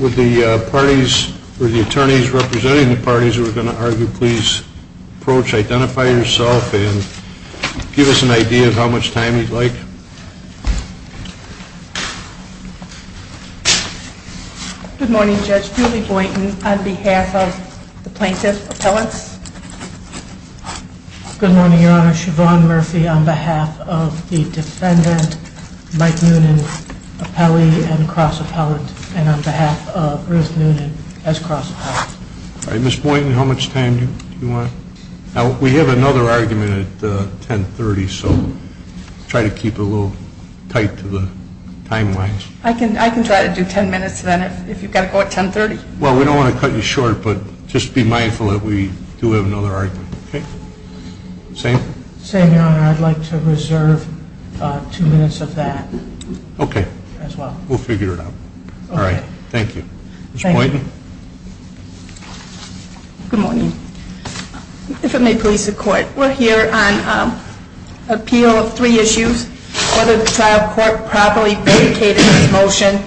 Would the attorneys representing the parties who are going to argue please approach, identify yourself, and give us an idea of how much time you'd like? Good morning Judge, Julie Boynton on behalf of the plaintiff appellants. Good morning your honor, Siobhan Murphy on behalf of the defendant Mike Noonan appellee and cross appellant and on behalf of Ruth Noonan as cross appellant. All right Ms. Boynton how much time do you want? Now we have another argument at 1030 so try to keep it a little tight to the timelines. I can try to do 10 minutes then if you've got to go at 1030. Well we don't want to cut you short but just be mindful that we do have another argument. Okay? Same? Same your honor, I'd like to reserve two minutes of that. Okay. As well. We'll figure it out. All right. Thank you. Ms. Boynton. Good morning. If it may please the court, we're here on appeal of three issues, whether the trial court properly vacated its motion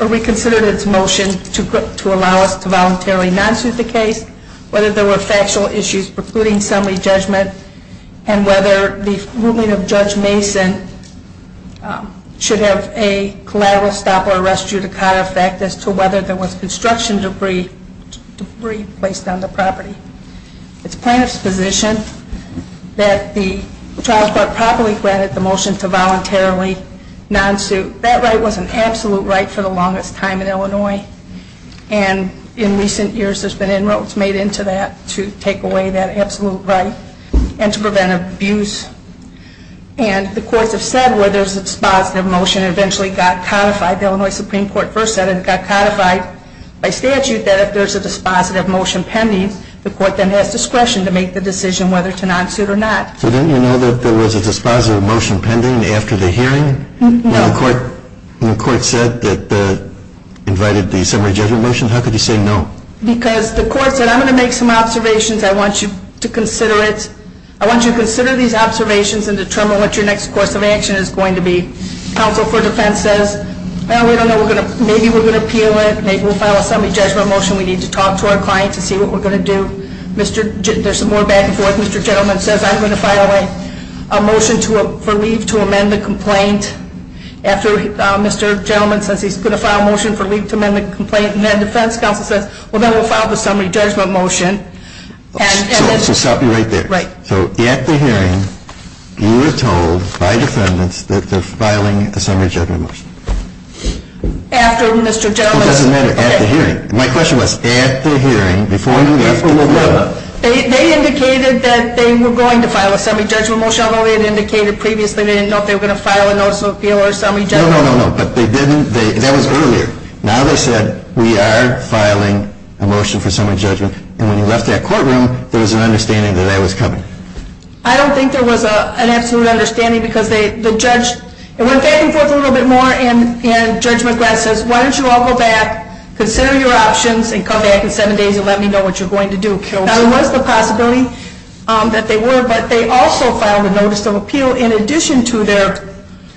or reconsidered its motion to allow us to voluntarily non-suit the case, whether there were factual issues precluding summary judgment, and whether the ruling of Judge Mason should have a collateral stop or arrest judicata. And the court has said whether there's a positive motion eventually got codified, the Illinois Supreme Court versus the Supreme Court. The court then has discretion to make the decision whether to non-suit or not. So didn't you know that there was a dispositive motion pending after the hearing? No. When the court said that the, invited the summary judgment motion, how could you say no? Because the court said I'm going to make some observations, I want you to consider it. I want you to consider these observations and determine what your next course of action is going to be. Counsel for defense says, well, we don't know. Maybe we're going to appeal it. Maybe we'll file a summary judgment motion. We need to talk to our client to see what we're going to do. There's more back and forth. Mr. Gentleman says I'm going to file a motion for leave to amend the complaint after Mr. Gentleman says he's going to file a motion for leave to amend the complaint. And then defense counsel says, well, then we'll file the summary judgment motion. So stop you right there. Right. So at the hearing, you were told by defendants that they're filing a summary judgment motion. After Mr. Gentleman. It doesn't matter. At the hearing. My question was at the hearing, before you left the courtroom. They indicated that they were going to file a summary judgment motion, although they had indicated previously they didn't know if they were going to file a notice of appeal or a summary judgment. No, no, no, no. But they didn't. That was earlier. Now they said we are filing a motion for summary judgment. And when you left that courtroom, there was an understanding that I was coming. I don't think there was an absolute understanding because the judge, it went back and forth a little bit more, and Judge McGrath says, why don't you all go back, consider your options, and come back in seven days and let me know what you're going to do. Now there was the possibility that they were, but they also filed a notice of appeal in addition to their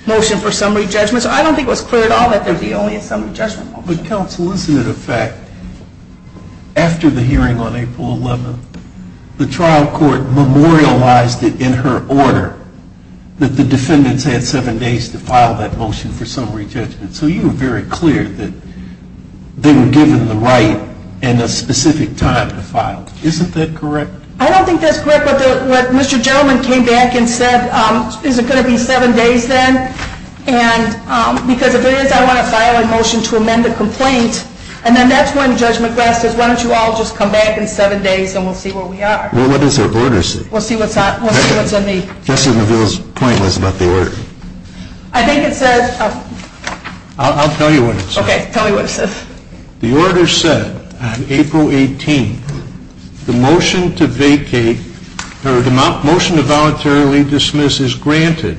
motion for summary judgment. So I don't think it was clear at all that there would be only a summary judgment motion. But counsel, isn't it a fact, after the hearing on April 11th, the trial court memorialized it in her order that the defendants had seven days to file that motion for summary judgment. So you were very clear that they were given the right and a specific time to file. Isn't that correct? I don't think that's correct. But what Mr. Gentleman came back and said, is it going to be seven days then? And because if it is, I want to file a motion to amend the complaint. And then that's when Judge McGrath says, why don't you all just come back in seven days and we'll see where we are. Well, what does the order say? We'll see what's on the order. I think it says. I'll tell you what it says. Okay, tell me what it says. The order said on April 18th, the motion to vacate or the motion to voluntarily dismiss is granted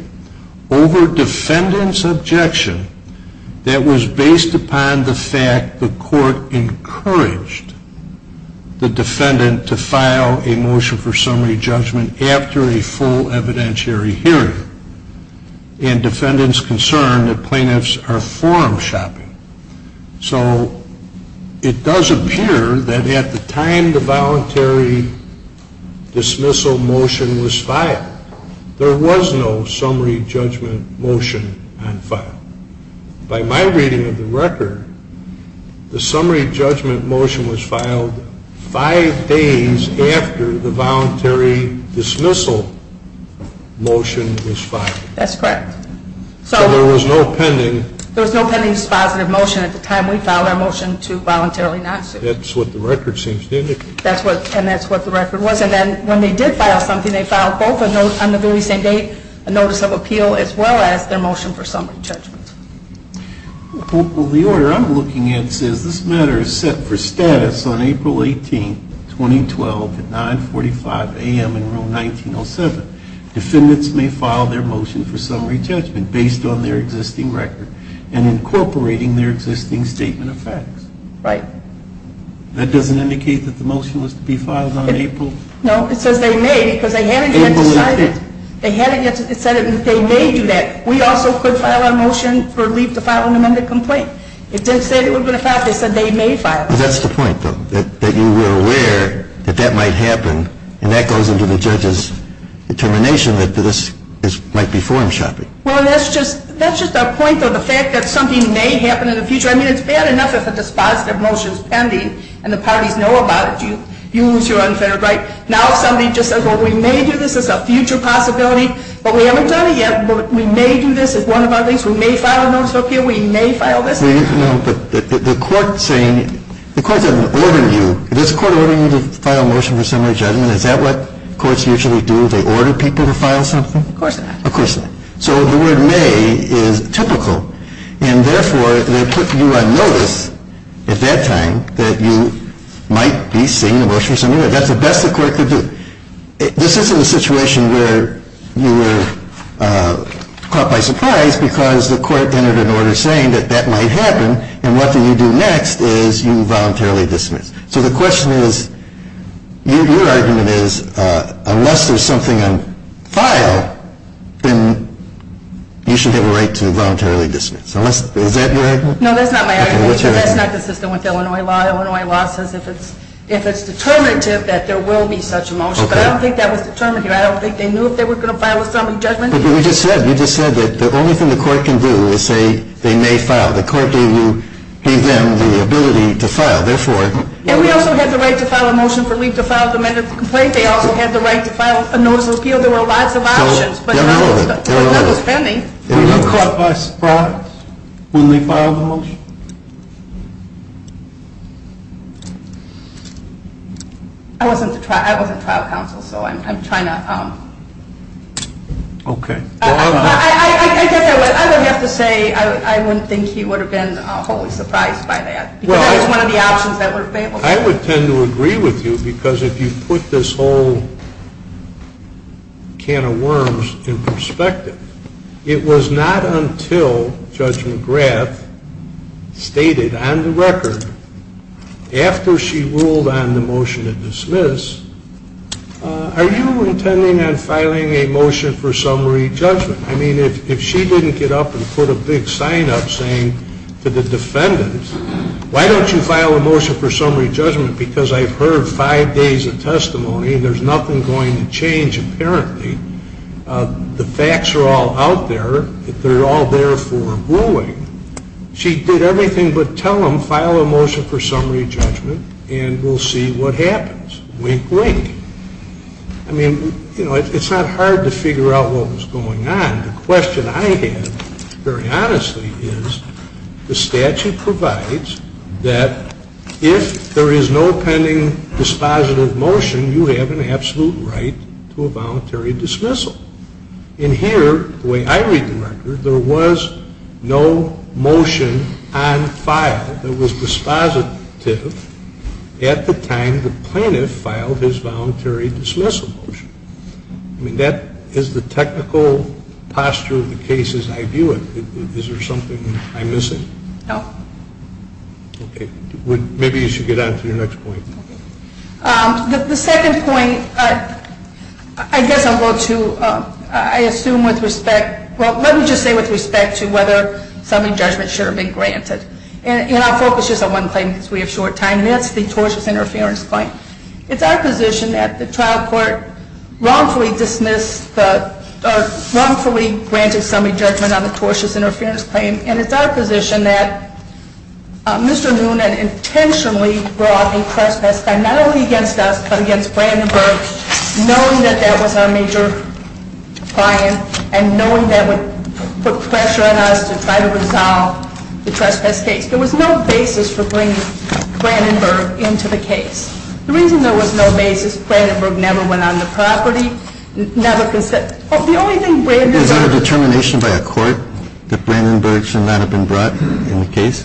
over defendant's objection that was based upon the fact the court encouraged the defendant to file a motion for summary judgment after a full evidentiary hearing. And defendant's concern that plaintiffs are forum shopping. So it does appear that at the time the voluntary dismissal motion was filed, there was no summary judgment motion on file. By my reading of the record, the summary judgment motion was filed five days after the voluntary dismissal motion was filed. That's correct. So there was no pending. There was no pending dispositive motion at the time we filed our motion to voluntarily not sue. That's what the record seems to indicate. And that's what the record was. And then when they did file something, they filed both on the very same date a notice of appeal as well as their motion for summary judgment. Well, the order I'm looking at says this matter is set for status on April 18th, 2012 at 945 a.m. in room 1907. Defendants may file their motion for summary judgment based on their existing record and incorporating their existing statement of facts. Right. That doesn't indicate that the motion was to be filed on April? No, it says they may because they haven't yet decided. They haven't yet decided that they may do that. We also could file our motion for leave to file an amended complaint. It didn't say that it was going to file it. They said they may file it. That's the point, though, that you were aware that that might happen. And that goes into the judge's determination that this might be forum shopping. Well, that's just our point, though, the fact that something may happen in the future. I mean, it's bad enough if a dispositive motion is pending and the parties know about it. You lose your unfettered right. Now somebody just says, well, we may do this. It's a future possibility. But we haven't done it yet. But we may do this as one of our things. We may file a notice of appeal. We may file this. No, but the court's saying the court doesn't order you. Does the court order you to file a motion for summary judgment? Is that what courts usually do? They order people to file something? Of course not. Of course not. So the word may is typical. And, therefore, they put you on notice at that time that you might be seeing a motion for summary. That's the best the court could do. This isn't a situation where you were caught by surprise because the court entered an order saying that that might happen. And what do you do next is you voluntarily dismiss. So the question is, your argument is, unless there's something on file, then you should have a right to voluntarily dismiss. Is that your argument? No, that's not my argument because that's not the system with Illinois law. Illinois law says if it's determinative that there will be such a motion. But I don't think that was determined here. I don't think they knew if they were going to file a summary judgment. But you just said that the only thing the court can do is say they may file. The court gave them the ability to file. And we also had the right to file a motion for leave to file a demanded complaint. They also had the right to file a notice of appeal. There were lots of options. But none was pending. Were you caught by surprise when they filed the motion? I wasn't trial counsel, so I'm trying to. Okay. I get that. But I would have to say I wouldn't think he would have been wholly surprised by that. Because that is one of the options that were available. I would tend to agree with you because if you put this whole can of worms in perspective, it was not until Judge McGrath stated on the record after she ruled on the motion to dismiss, are you intending on filing a motion for summary judgment? I mean, if she didn't get up and put a big sign up saying to the defendants, why don't you file a motion for summary judgment because I've heard five days of testimony and there's nothing going to change apparently. The facts are all out there. They're all there for ruling. She did everything but tell them file a motion for summary judgment and we'll see what happens. Wink, wink. I mean, you know, it's not hard to figure out what was going on. The question I have, very honestly, is the statute provides that if there is no pending dispositive motion, you have an absolute right to a voluntary dismissal. And here, the way I read the record, there was no motion on file that was dispositive at the time and the plaintiff filed his voluntary dismissal motion. I mean, that is the technical posture of the case as I view it. Is there something I'm missing? No. Okay. Maybe you should get on to your next point. The second point, I guess I'll go to, I assume with respect, well, let me just say with respect to whether summary judgment should have been granted. And I'll focus just on one claim because we have short time. And that's the tortious interference claim. It's our position that the trial court wrongfully dismissed, or wrongfully granted summary judgment on the tortious interference claim. And it's our position that Mr. Noonan intentionally brought a trespass claim, not only against us but against Brandenburg, knowing that that was our major client and knowing that would put pressure on us to try to resolve the trespass case. There was no basis for bringing Brandenburg into the case. The reason there was no basis, Brandenburg never went on the property, never consented. Is there a determination by a court that Brandenburg should not have been brought in the case?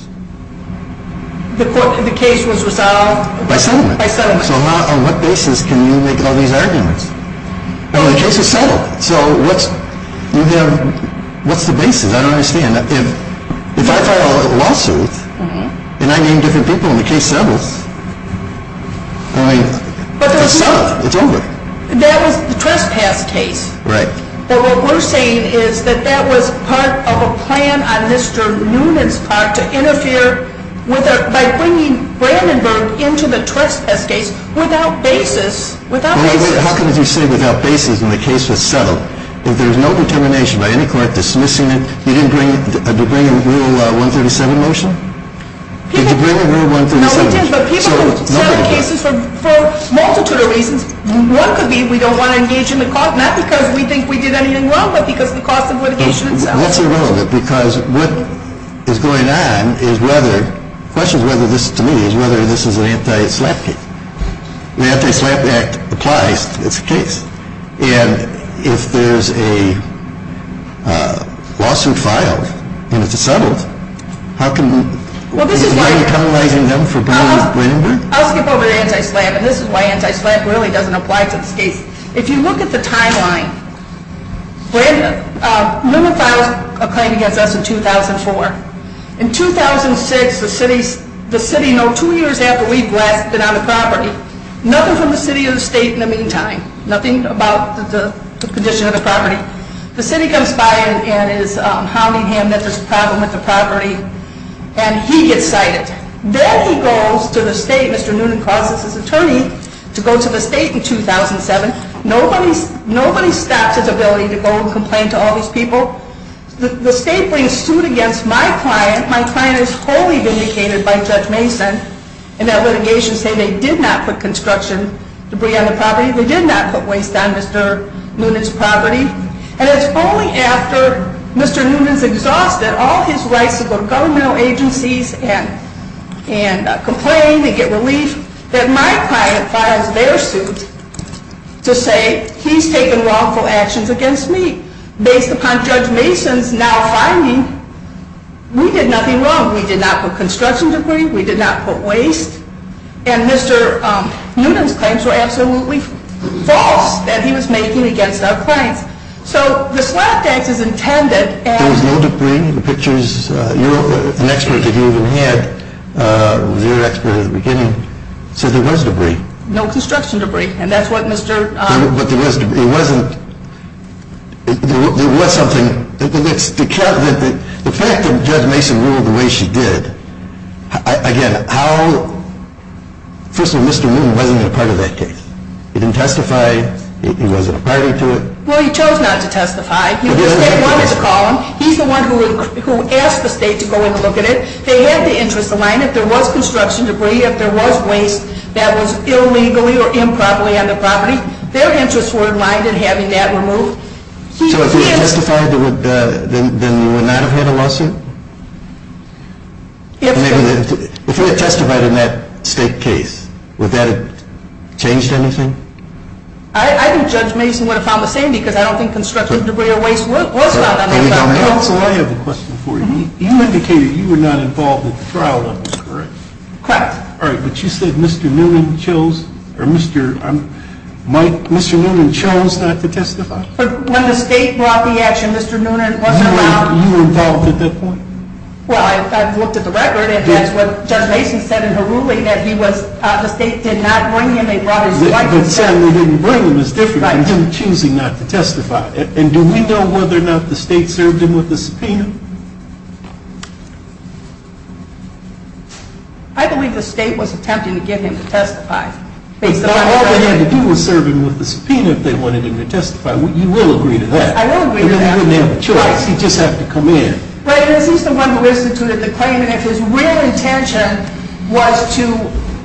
The case was resolved by settlement. By settlement. So on what basis can you make all these arguments? Well, the case was settled. So what's the basis? I don't understand. If I file a lawsuit and I name different people and the case settles, it's settled. It's over. That was the trespass case. Right. But what we're saying is that that was part of a plan on Mr. Noonan's part to interfere by bringing Brandenburg into the trespass case without basis. How can you say without basis when the case was settled? If there's no determination by any court dismissing it, you didn't bring a rule 137 motion? Did you bring a rule 137? No, we did. But people can settle cases for a multitude of reasons. One could be we don't want to engage in the cause, not because we think we did anything wrong, but because of the cost of litigation itself. That's irrelevant because what is going on is whether, the question to me is whether this is an anti-SLAPP case. The Anti-SLAPP Act applies. It's a case. And if there's a lawsuit filed and it's settled, is there any penalizing them for bringing Brandenburg? I'll skip over the anti-SLAPP, and this is why anti-SLAPP really doesn't apply to this case. If you look at the timeline, Noonan filed a claim against us in 2004. In 2006, the city, no, two years after we've been on the property, nothing from the city or the state in the meantime, nothing about the condition of the property. The city comes by and is hounding him that there's a problem with the property, and he gets cited. Then he goes to the state, Mr. Noonan calls his attorney to go to the state in 2007. Nobody stops his ability to go and complain to all these people. The state brings suit against my client. My client is wholly vindicated by Judge Mason in that litigation saying they did not put construction debris on the property. They did not put waste on Mr. Noonan's property. And it's only after Mr. Noonan's exhausted all his rights to go to governmental agencies and complain and get relief that my client files their suit to say he's taken wrongful actions against me. Based upon Judge Mason's now finding, we did nothing wrong. We did not put construction debris. We did not put waste. And Mr. Noonan's claims were absolutely false that he was making against our clients. So the SLAPP Act is intended as... There was no debris in the pictures. An expert that you even had was your expert at the beginning said there was debris. No construction debris, and that's what Mr. But there was debris. It wasn't. There was something. The fact that Judge Mason ruled the way she did, again, how... First of all, Mr. Noonan wasn't a part of that case. He didn't testify. He wasn't a party to it. Well, he chose not to testify. The state wanted to call him. He's the one who asked the state to go in and look at it. They had the interests aligned. If there was construction debris, if there was waste that was illegally or improperly on the property, their interests were aligned in having that removed. So if he had testified, then you would not have had a lawsuit? If so... If he had testified in that state case, would that have changed anything? I think Judge Mason would have found the same because I don't think construction debris or waste was found on that property. Counsel, I have a question for you. You indicated you were not involved in the trial, correct? Correct. All right, but you said Mr. Noonan chose not to testify? When the state brought the action, Mr. Noonan wasn't around. You were involved at that point? Well, I looked at the record, and that's what Judge Mason said in her ruling, that the state did not bring him. But saying they didn't bring him is different than him choosing not to testify. And do we know whether or not the state served him with a subpoena? I believe the state was attempting to get him to testify. But all they had to do was serve him with a subpoena if they wanted him to testify. You will agree to that. I will agree to that. And then he wouldn't have a choice. He'd just have to come in. Well, he's the one who instituted the claim. And if his real intention was to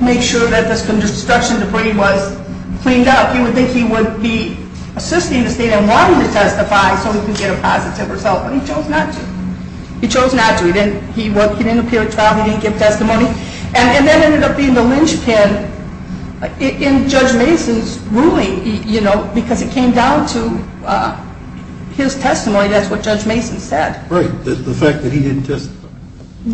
make sure that this construction debris was cleaned up, you would think he would be assisting the state in wanting to testify so he could get a positive result. But he chose not to. He chose not to. He didn't appear at trial. He didn't give testimony. And that ended up being the linchpin in Judge Mason's ruling, you know, because it came down to his testimony. That's what Judge Mason said. Right. The fact that he didn't testify.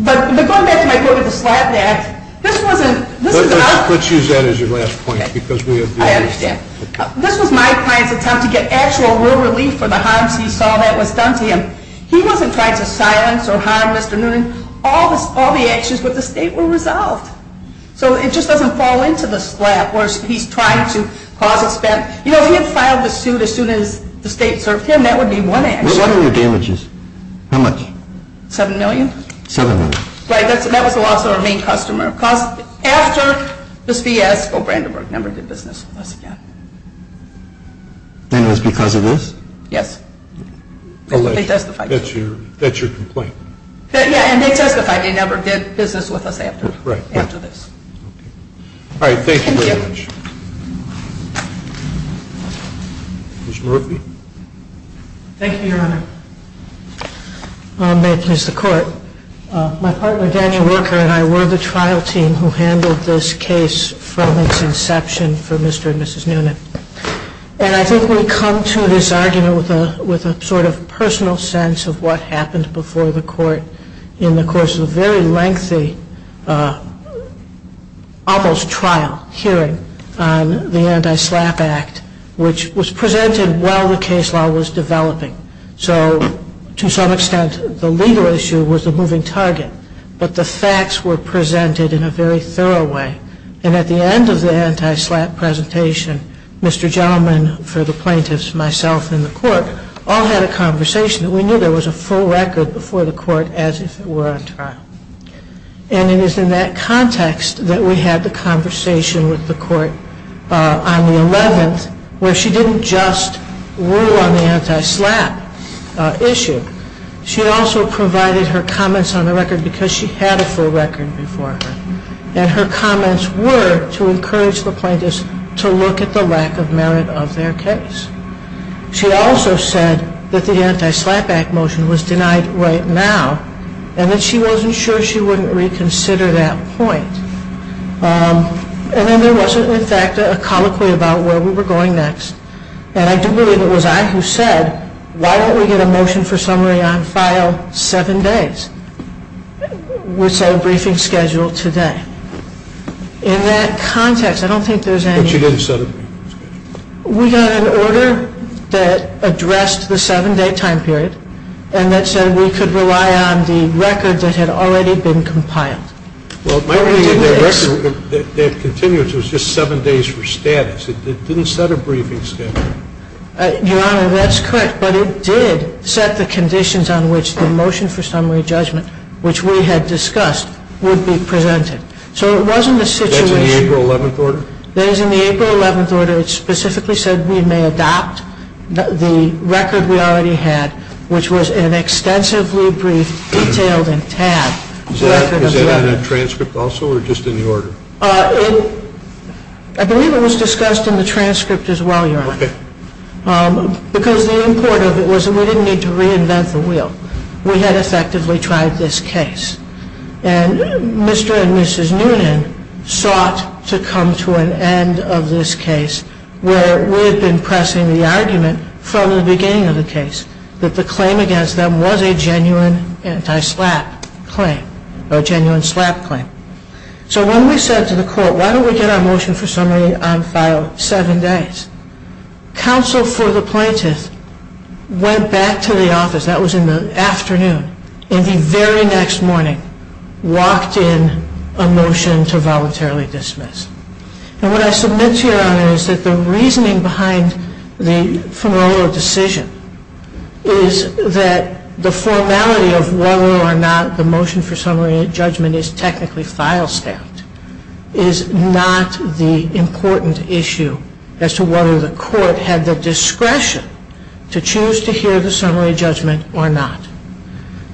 But going back to my point of the slapdash, this wasn't – Let's use that as your last point because we have – I understand. This was my client's attempt to get actual real relief for the harms he saw that was done to him. He wasn't trying to silence or harm Mr. Noonan. All the actions with the state were resolved. So it just doesn't fall into the slap where he's trying to cause a – you know, he had filed the suit as soon as the state served him. That would be one action. What are your damages? How much? $7 million. $7 million. Right. That was the loss of our main customer. After this fiasco, Brandenburg never did business with us again. And it was because of this? Yes. They testified. That's your complaint. Yeah. And they testified. They never did business with us after this. Right. Okay. All right. Thank you very much. Thank you. Ms. Murphy? Thank you, Your Honor. May it please the Court. My partner, Daniel Worker, and I were the trial team who handled this case from its inception for Mr. and Mrs. Noonan. And I think we come to this argument with a sort of personal sense of what happened before the Court in the course of a very lengthy, almost trial hearing on the Anti-Slap Act, which was presented while the case law was developing. So, to some extent, the legal issue was the moving target, but the facts were presented in a very thorough way. And at the end of the Anti-Slap presentation, Mr. Gentleman, for the plaintiffs, myself, and the Court, all had a conversation that we knew there was a full record before the Court as if it were on trial. And it is in that context that we had the conversation with the Court on the 11th where she didn't just rule on the Anti-Slap issue. She also provided her comments on the record because she had a full record before her. And her comments were to encourage the plaintiffs to look at the lack of merit of their case. She also said that the Anti-Slap Act motion was denied right now, and that she wasn't sure she wouldn't reconsider that point. And then there was, in fact, a colloquy about where we were going next. And I do believe it was I who said, why don't we get a motion for summary on file seven days? We'll set a briefing schedule today. In that context, I don't think there's any... But you didn't set a briefing schedule. We got an order that addressed the seven-day time period, and that said we could rely on the record that had already been compiled. Well, my reading of the record that continues was just seven days for status. It didn't set a briefing schedule. Your Honor, that's correct. But it did set the conditions on which the motion for summary judgment, which we had discussed, would be presented. So it wasn't a situation... That's in the April 11th order? That is in the April 11th order. It specifically said we may adopt the record we already had, which was an extensively brief, detailed, and tab record of... Is that in the transcript also, or just in the order? I believe it was discussed in the transcript as well, Your Honor. Okay. Because the import of it was that we didn't need to reinvent the wheel. We had effectively tried this case. And Mr. and Mrs. Noonan sought to come to an end of this case where we had been pressing the argument from the beginning of the case that the claim against them was a genuine anti-SLAPP claim, or a genuine SLAPP claim. So when we said to the court, why don't we get our motion for summary on file seven days, counsel for the plaintiff went back to the office. That was in the afternoon. In the very next morning, walked in a motion to voluntarily dismiss. And what I submit to you, Your Honor, is that the reasoning behind the Funerolo decision is that the formality of whether or not the motion for summary judgment is technically file-stamped is not the important issue as to whether the court had the discretion to choose to hear the summary judgment or not.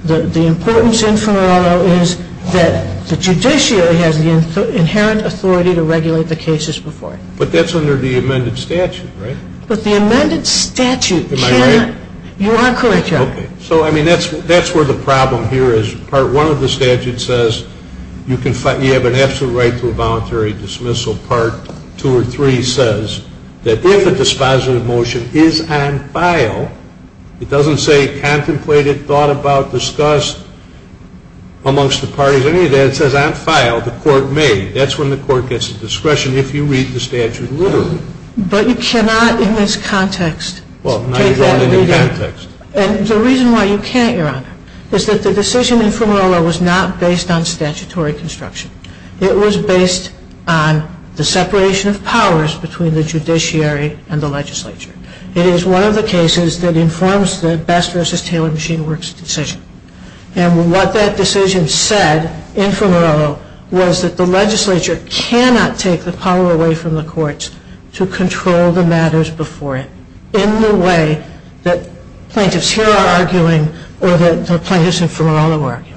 The importance in Funerolo is that the judiciary has the inherent authority to regulate the cases before it. But that's under the amended statute, right? But the amended statute cannot Am I right? You are correct, Your Honor. Okay. So, I mean, that's where the problem here is. Part one of the statute says you have an absolute right to a voluntary dismissal. Part two or three says that if a dispositive motion is on file, it doesn't say contemplated, thought about, discussed amongst the parties. If there's any of that, it says on file, the court may. That's when the court gets the discretion if you read the statute. Literally. But you cannot in this context take that and read it. Well, now you're going into context. And the reason why you can't, Your Honor, is that the decision in Funerolo was not based on statutory construction. It was based on the separation of powers between the judiciary and the legislature. It is one of the cases that informs the Best v. Taylor Machine Works decision. And what that decision said in Funerolo was that the legislature cannot take the power away from the courts to control the matters before it in the way that plaintiffs here are arguing or that the plaintiffs in Funerolo are arguing.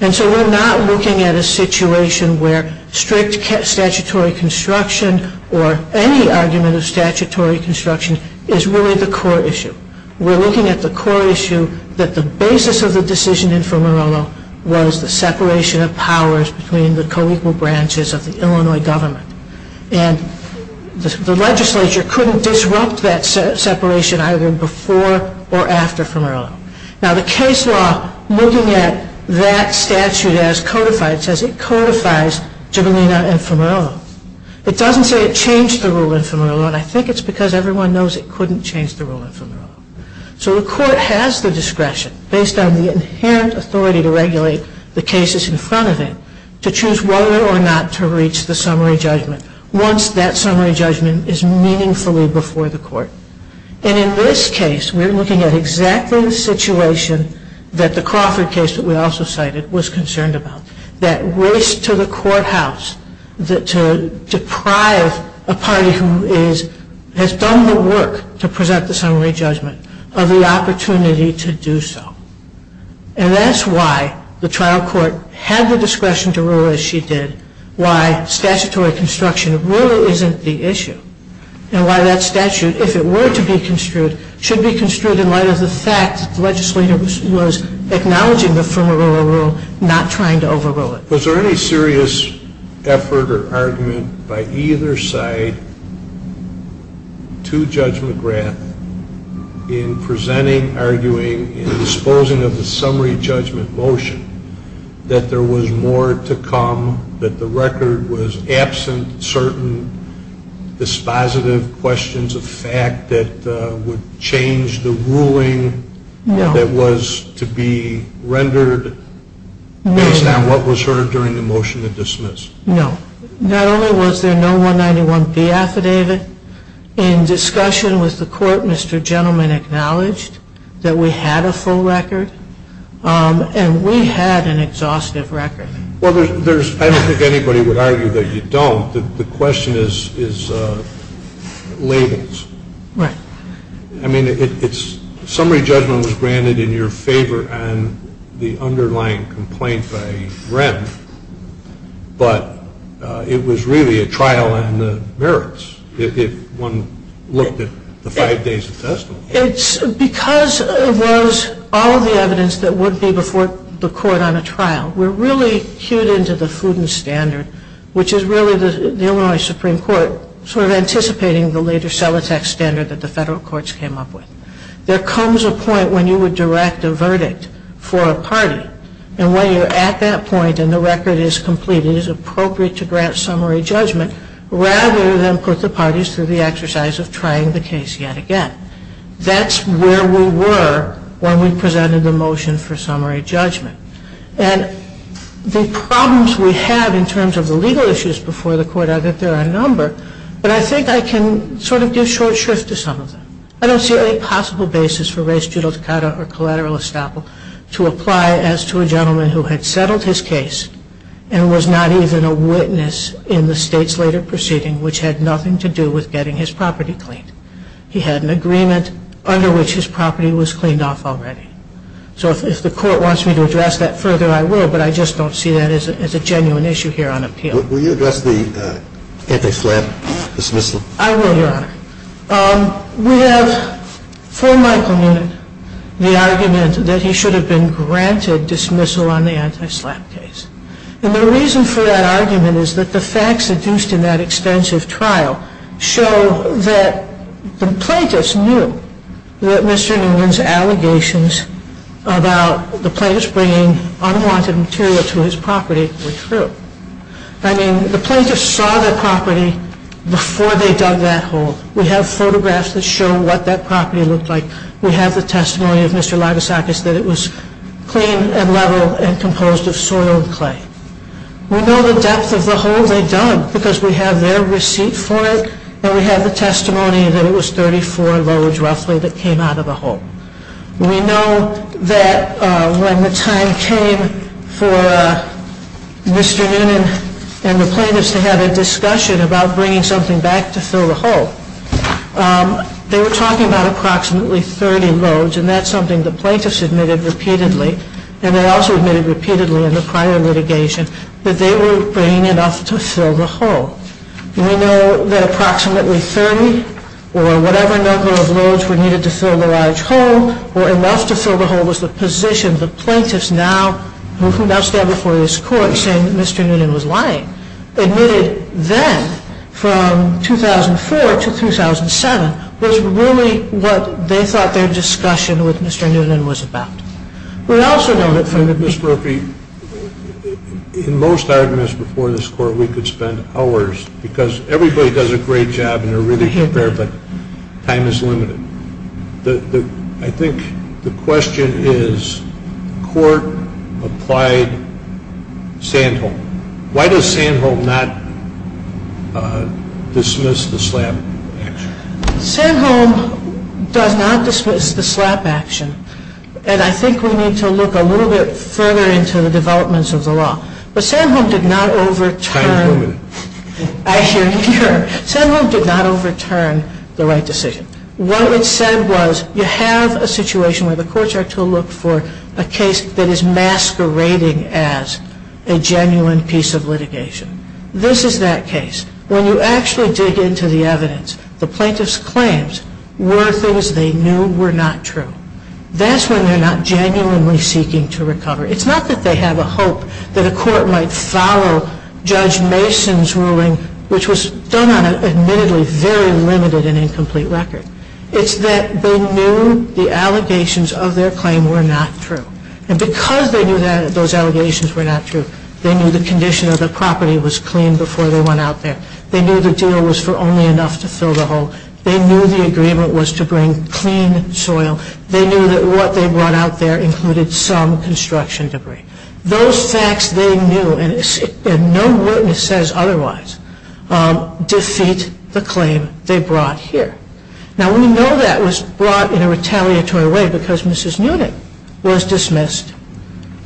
And so we're not looking at a situation where strict statutory construction or any argument of statutory construction is really the core issue. We're looking at the core issue that the basis of the decision in Funerolo was the separation of powers between the co-equal branches of the Illinois government. And the legislature couldn't disrupt that separation either before or after Funerolo. Now, the case law looking at that statute as codified says it codifies Gibellina and Funerolo. It doesn't say it changed the rule in Funerolo. And I think it's because everyone knows it couldn't change the rule in Funerolo. So the court has the discretion based on the inherent authority to regulate the cases in front of it to choose whether or not to reach the summary judgment once that summary judgment is meaningfully before the court. And in this case, we're looking at exactly the situation that the Crawford case that we also cited was concerned about. That race to the courthouse to deprive a party who has done the work to present the summary judgment of the opportunity to do so. And that's why the trial court had the discretion to rule as she did why statutory construction really isn't the issue. And why that statute, if it were to be construed, should be construed in light of the fact that the legislator was acknowledging the Funerolo rule, not trying to overrule it. Was there any serious effort or argument by either side to Judge McGrath in presenting, arguing, in disposing of the summary judgment motion that there was more to come, that the record was absent certain dispositive questions of fact that would change the ruling that was to be rendered based on what was heard during the motion to dismiss? No. Not only was there no 191B affidavit, in discussion with the court, Mr. Gentleman acknowledged that we had a full record. And we had an exhaustive record. Well, I don't think anybody would argue that you don't. The question is ladles. Right. I mean, it's summary judgment was granted in your favor and the underlying complaint by Rem. But it was really a trial on the merits. If one looked at the five days of testimony. Because of those, all of the evidence that would be before the court on a trial, we're really cued into the food and standard, which is really the Illinois Supreme Court sort of anticipating the later cell attack standard that the federal courts came up with. There comes a point when you would direct a verdict for a party. And when you're at that point and the record is complete, it is appropriate to grant summary judgment rather than put the parties through the exercise of trying the case yet again. That's where we were when we presented the motion for summary judgment. And the problems we had in terms of the legal issues before the court are that there are a number. But I think I can sort of give short shrift to some of them. I don't see any possible basis for race judicata or collateral estoppel to apply as to a gentleman who had settled his case and was not even a witness in the state's later proceeding, which had nothing to do with getting his property cleaned. He had an agreement under which his property was cleaned off already. So if the court wants me to address that further, I will. But I just don't see that as a genuine issue here on appeal. Will you address the anti-SLAPP dismissal? I will, Your Honor. We have for Michael Noonan the argument that he should have been granted dismissal on the anti-SLAPP case. And the reason for that argument is that the facts adduced in that extensive trial show that the plaintiffs knew that Mr. Noonan's allegations about the plaintiffs bringing unwanted material to his property were true. I mean, the plaintiffs saw the property before they dug that hole. We have photographs that show what that property looked like. We have the testimony of Mr. Libousakis that it was clean and level and composed of soiled clay. We know the depth of the hole they dug because we have their receipt for it and we have the testimony that it was 34 loads roughly that came out of the hole. We know that when the time came for Mr. Noonan and the plaintiffs to have a discussion about bringing something back to fill the hole, they were talking about approximately 30 loads and that's something the plaintiffs admitted repeatedly and they also admitted repeatedly in the prior litigation that they were bringing enough to fill the hole. We know that approximately 30 or whatever number of loads were needed to fill the large hole or enough to fill the hole was the position the plaintiffs now, who now stand before this court saying that Mr. Noonan was lying, admitted then from 2004 to 2007 was really what they thought their discussion with Mr. Noonan was about. We also know that from Mr. Murphy, in most arguments before this court, we could spend hours because everybody does a great job and they're really prepared but time is limited. I think the question is court applied Sandholm. Why does Sandholm not dismiss the slap action? Sandholm does not dismiss the slap action and I think we need to look a little bit further into the developments of the law. But Sandholm did not overturn the right decision. What it said was you have a situation where the courts are to look for a case that is masquerading as a genuine piece of litigation. This is that case. When you actually dig into the evidence, the plaintiff's claims were things they knew were not true. That's when they're not genuinely seeking to recover. It's not that they have a hope that a court might follow Judge Mason's ruling which was done on an admittedly very limited and incomplete record. It's that they knew the allegations of their claim were not true. And because they knew that those allegations were not true, they knew the condition of the property was clean before they went out there. They knew the deal was for only enough to fill the hole. They knew the agreement was to bring clean soil. They knew that what they brought out there included some construction debris. Those facts they knew and no witness says otherwise defeat the claim they brought here. Now we know that was brought in a retaliatory way because Mrs. Noonan was dismissed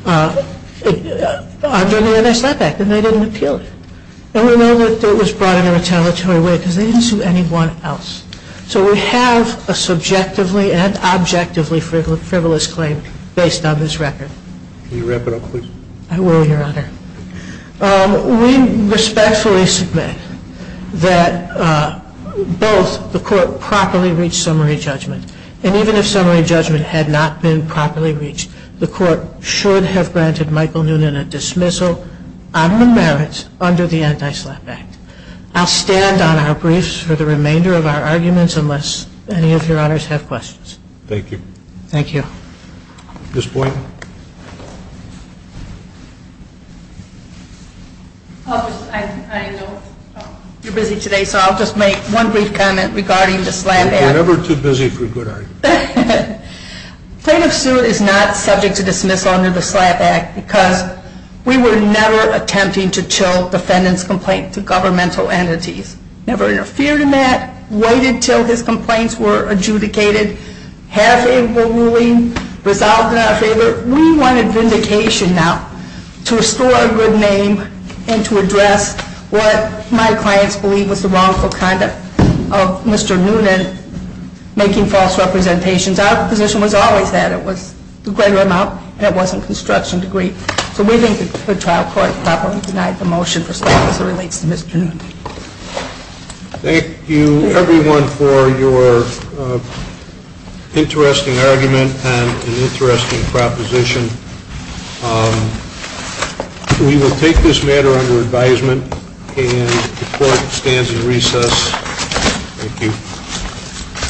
under the NSF Act and they didn't appeal it. And we know that it was brought in a retaliatory way because they didn't sue anyone else. So we have a subjectively and objectively frivolous claim based on this record. Can you wrap it up, please? I will, Your Honor. We respectfully submit that both the court properly reached summary judgment and even if summary judgment had not been properly reached, the court should have granted Michael Noonan a dismissal on the merits under the Anti-SLAPP Act. I'll stand on our briefs for the remainder of our arguments unless any of your honors have questions. Thank you. Thank you. Ms. Boynton. I know you're busy today so I'll just make one brief comment regarding the SLAPP Act. We're never too busy for good arguments. Plaintiff's suit is not subject to dismissal under the SLAPP Act because we were never attempting to chill defendant's complaint to governmental entities. Never interfered in that, waited until his complaints were adjudicated, had a favorable ruling, resolved in our favor. We wanted vindication now to restore a good name and to address what my clients believe was the wrongful conduct of Mr. Noonan making false representations. Our position was always that it was the greater amount and it wasn't construction degree. So we think the trial court properly denied the motion for SLAPP as it relates to Mr. Noonan. Thank you, everyone, for your interesting argument and an interesting proposition. We will take this matter under advisement and the court stands in recess. Thank you.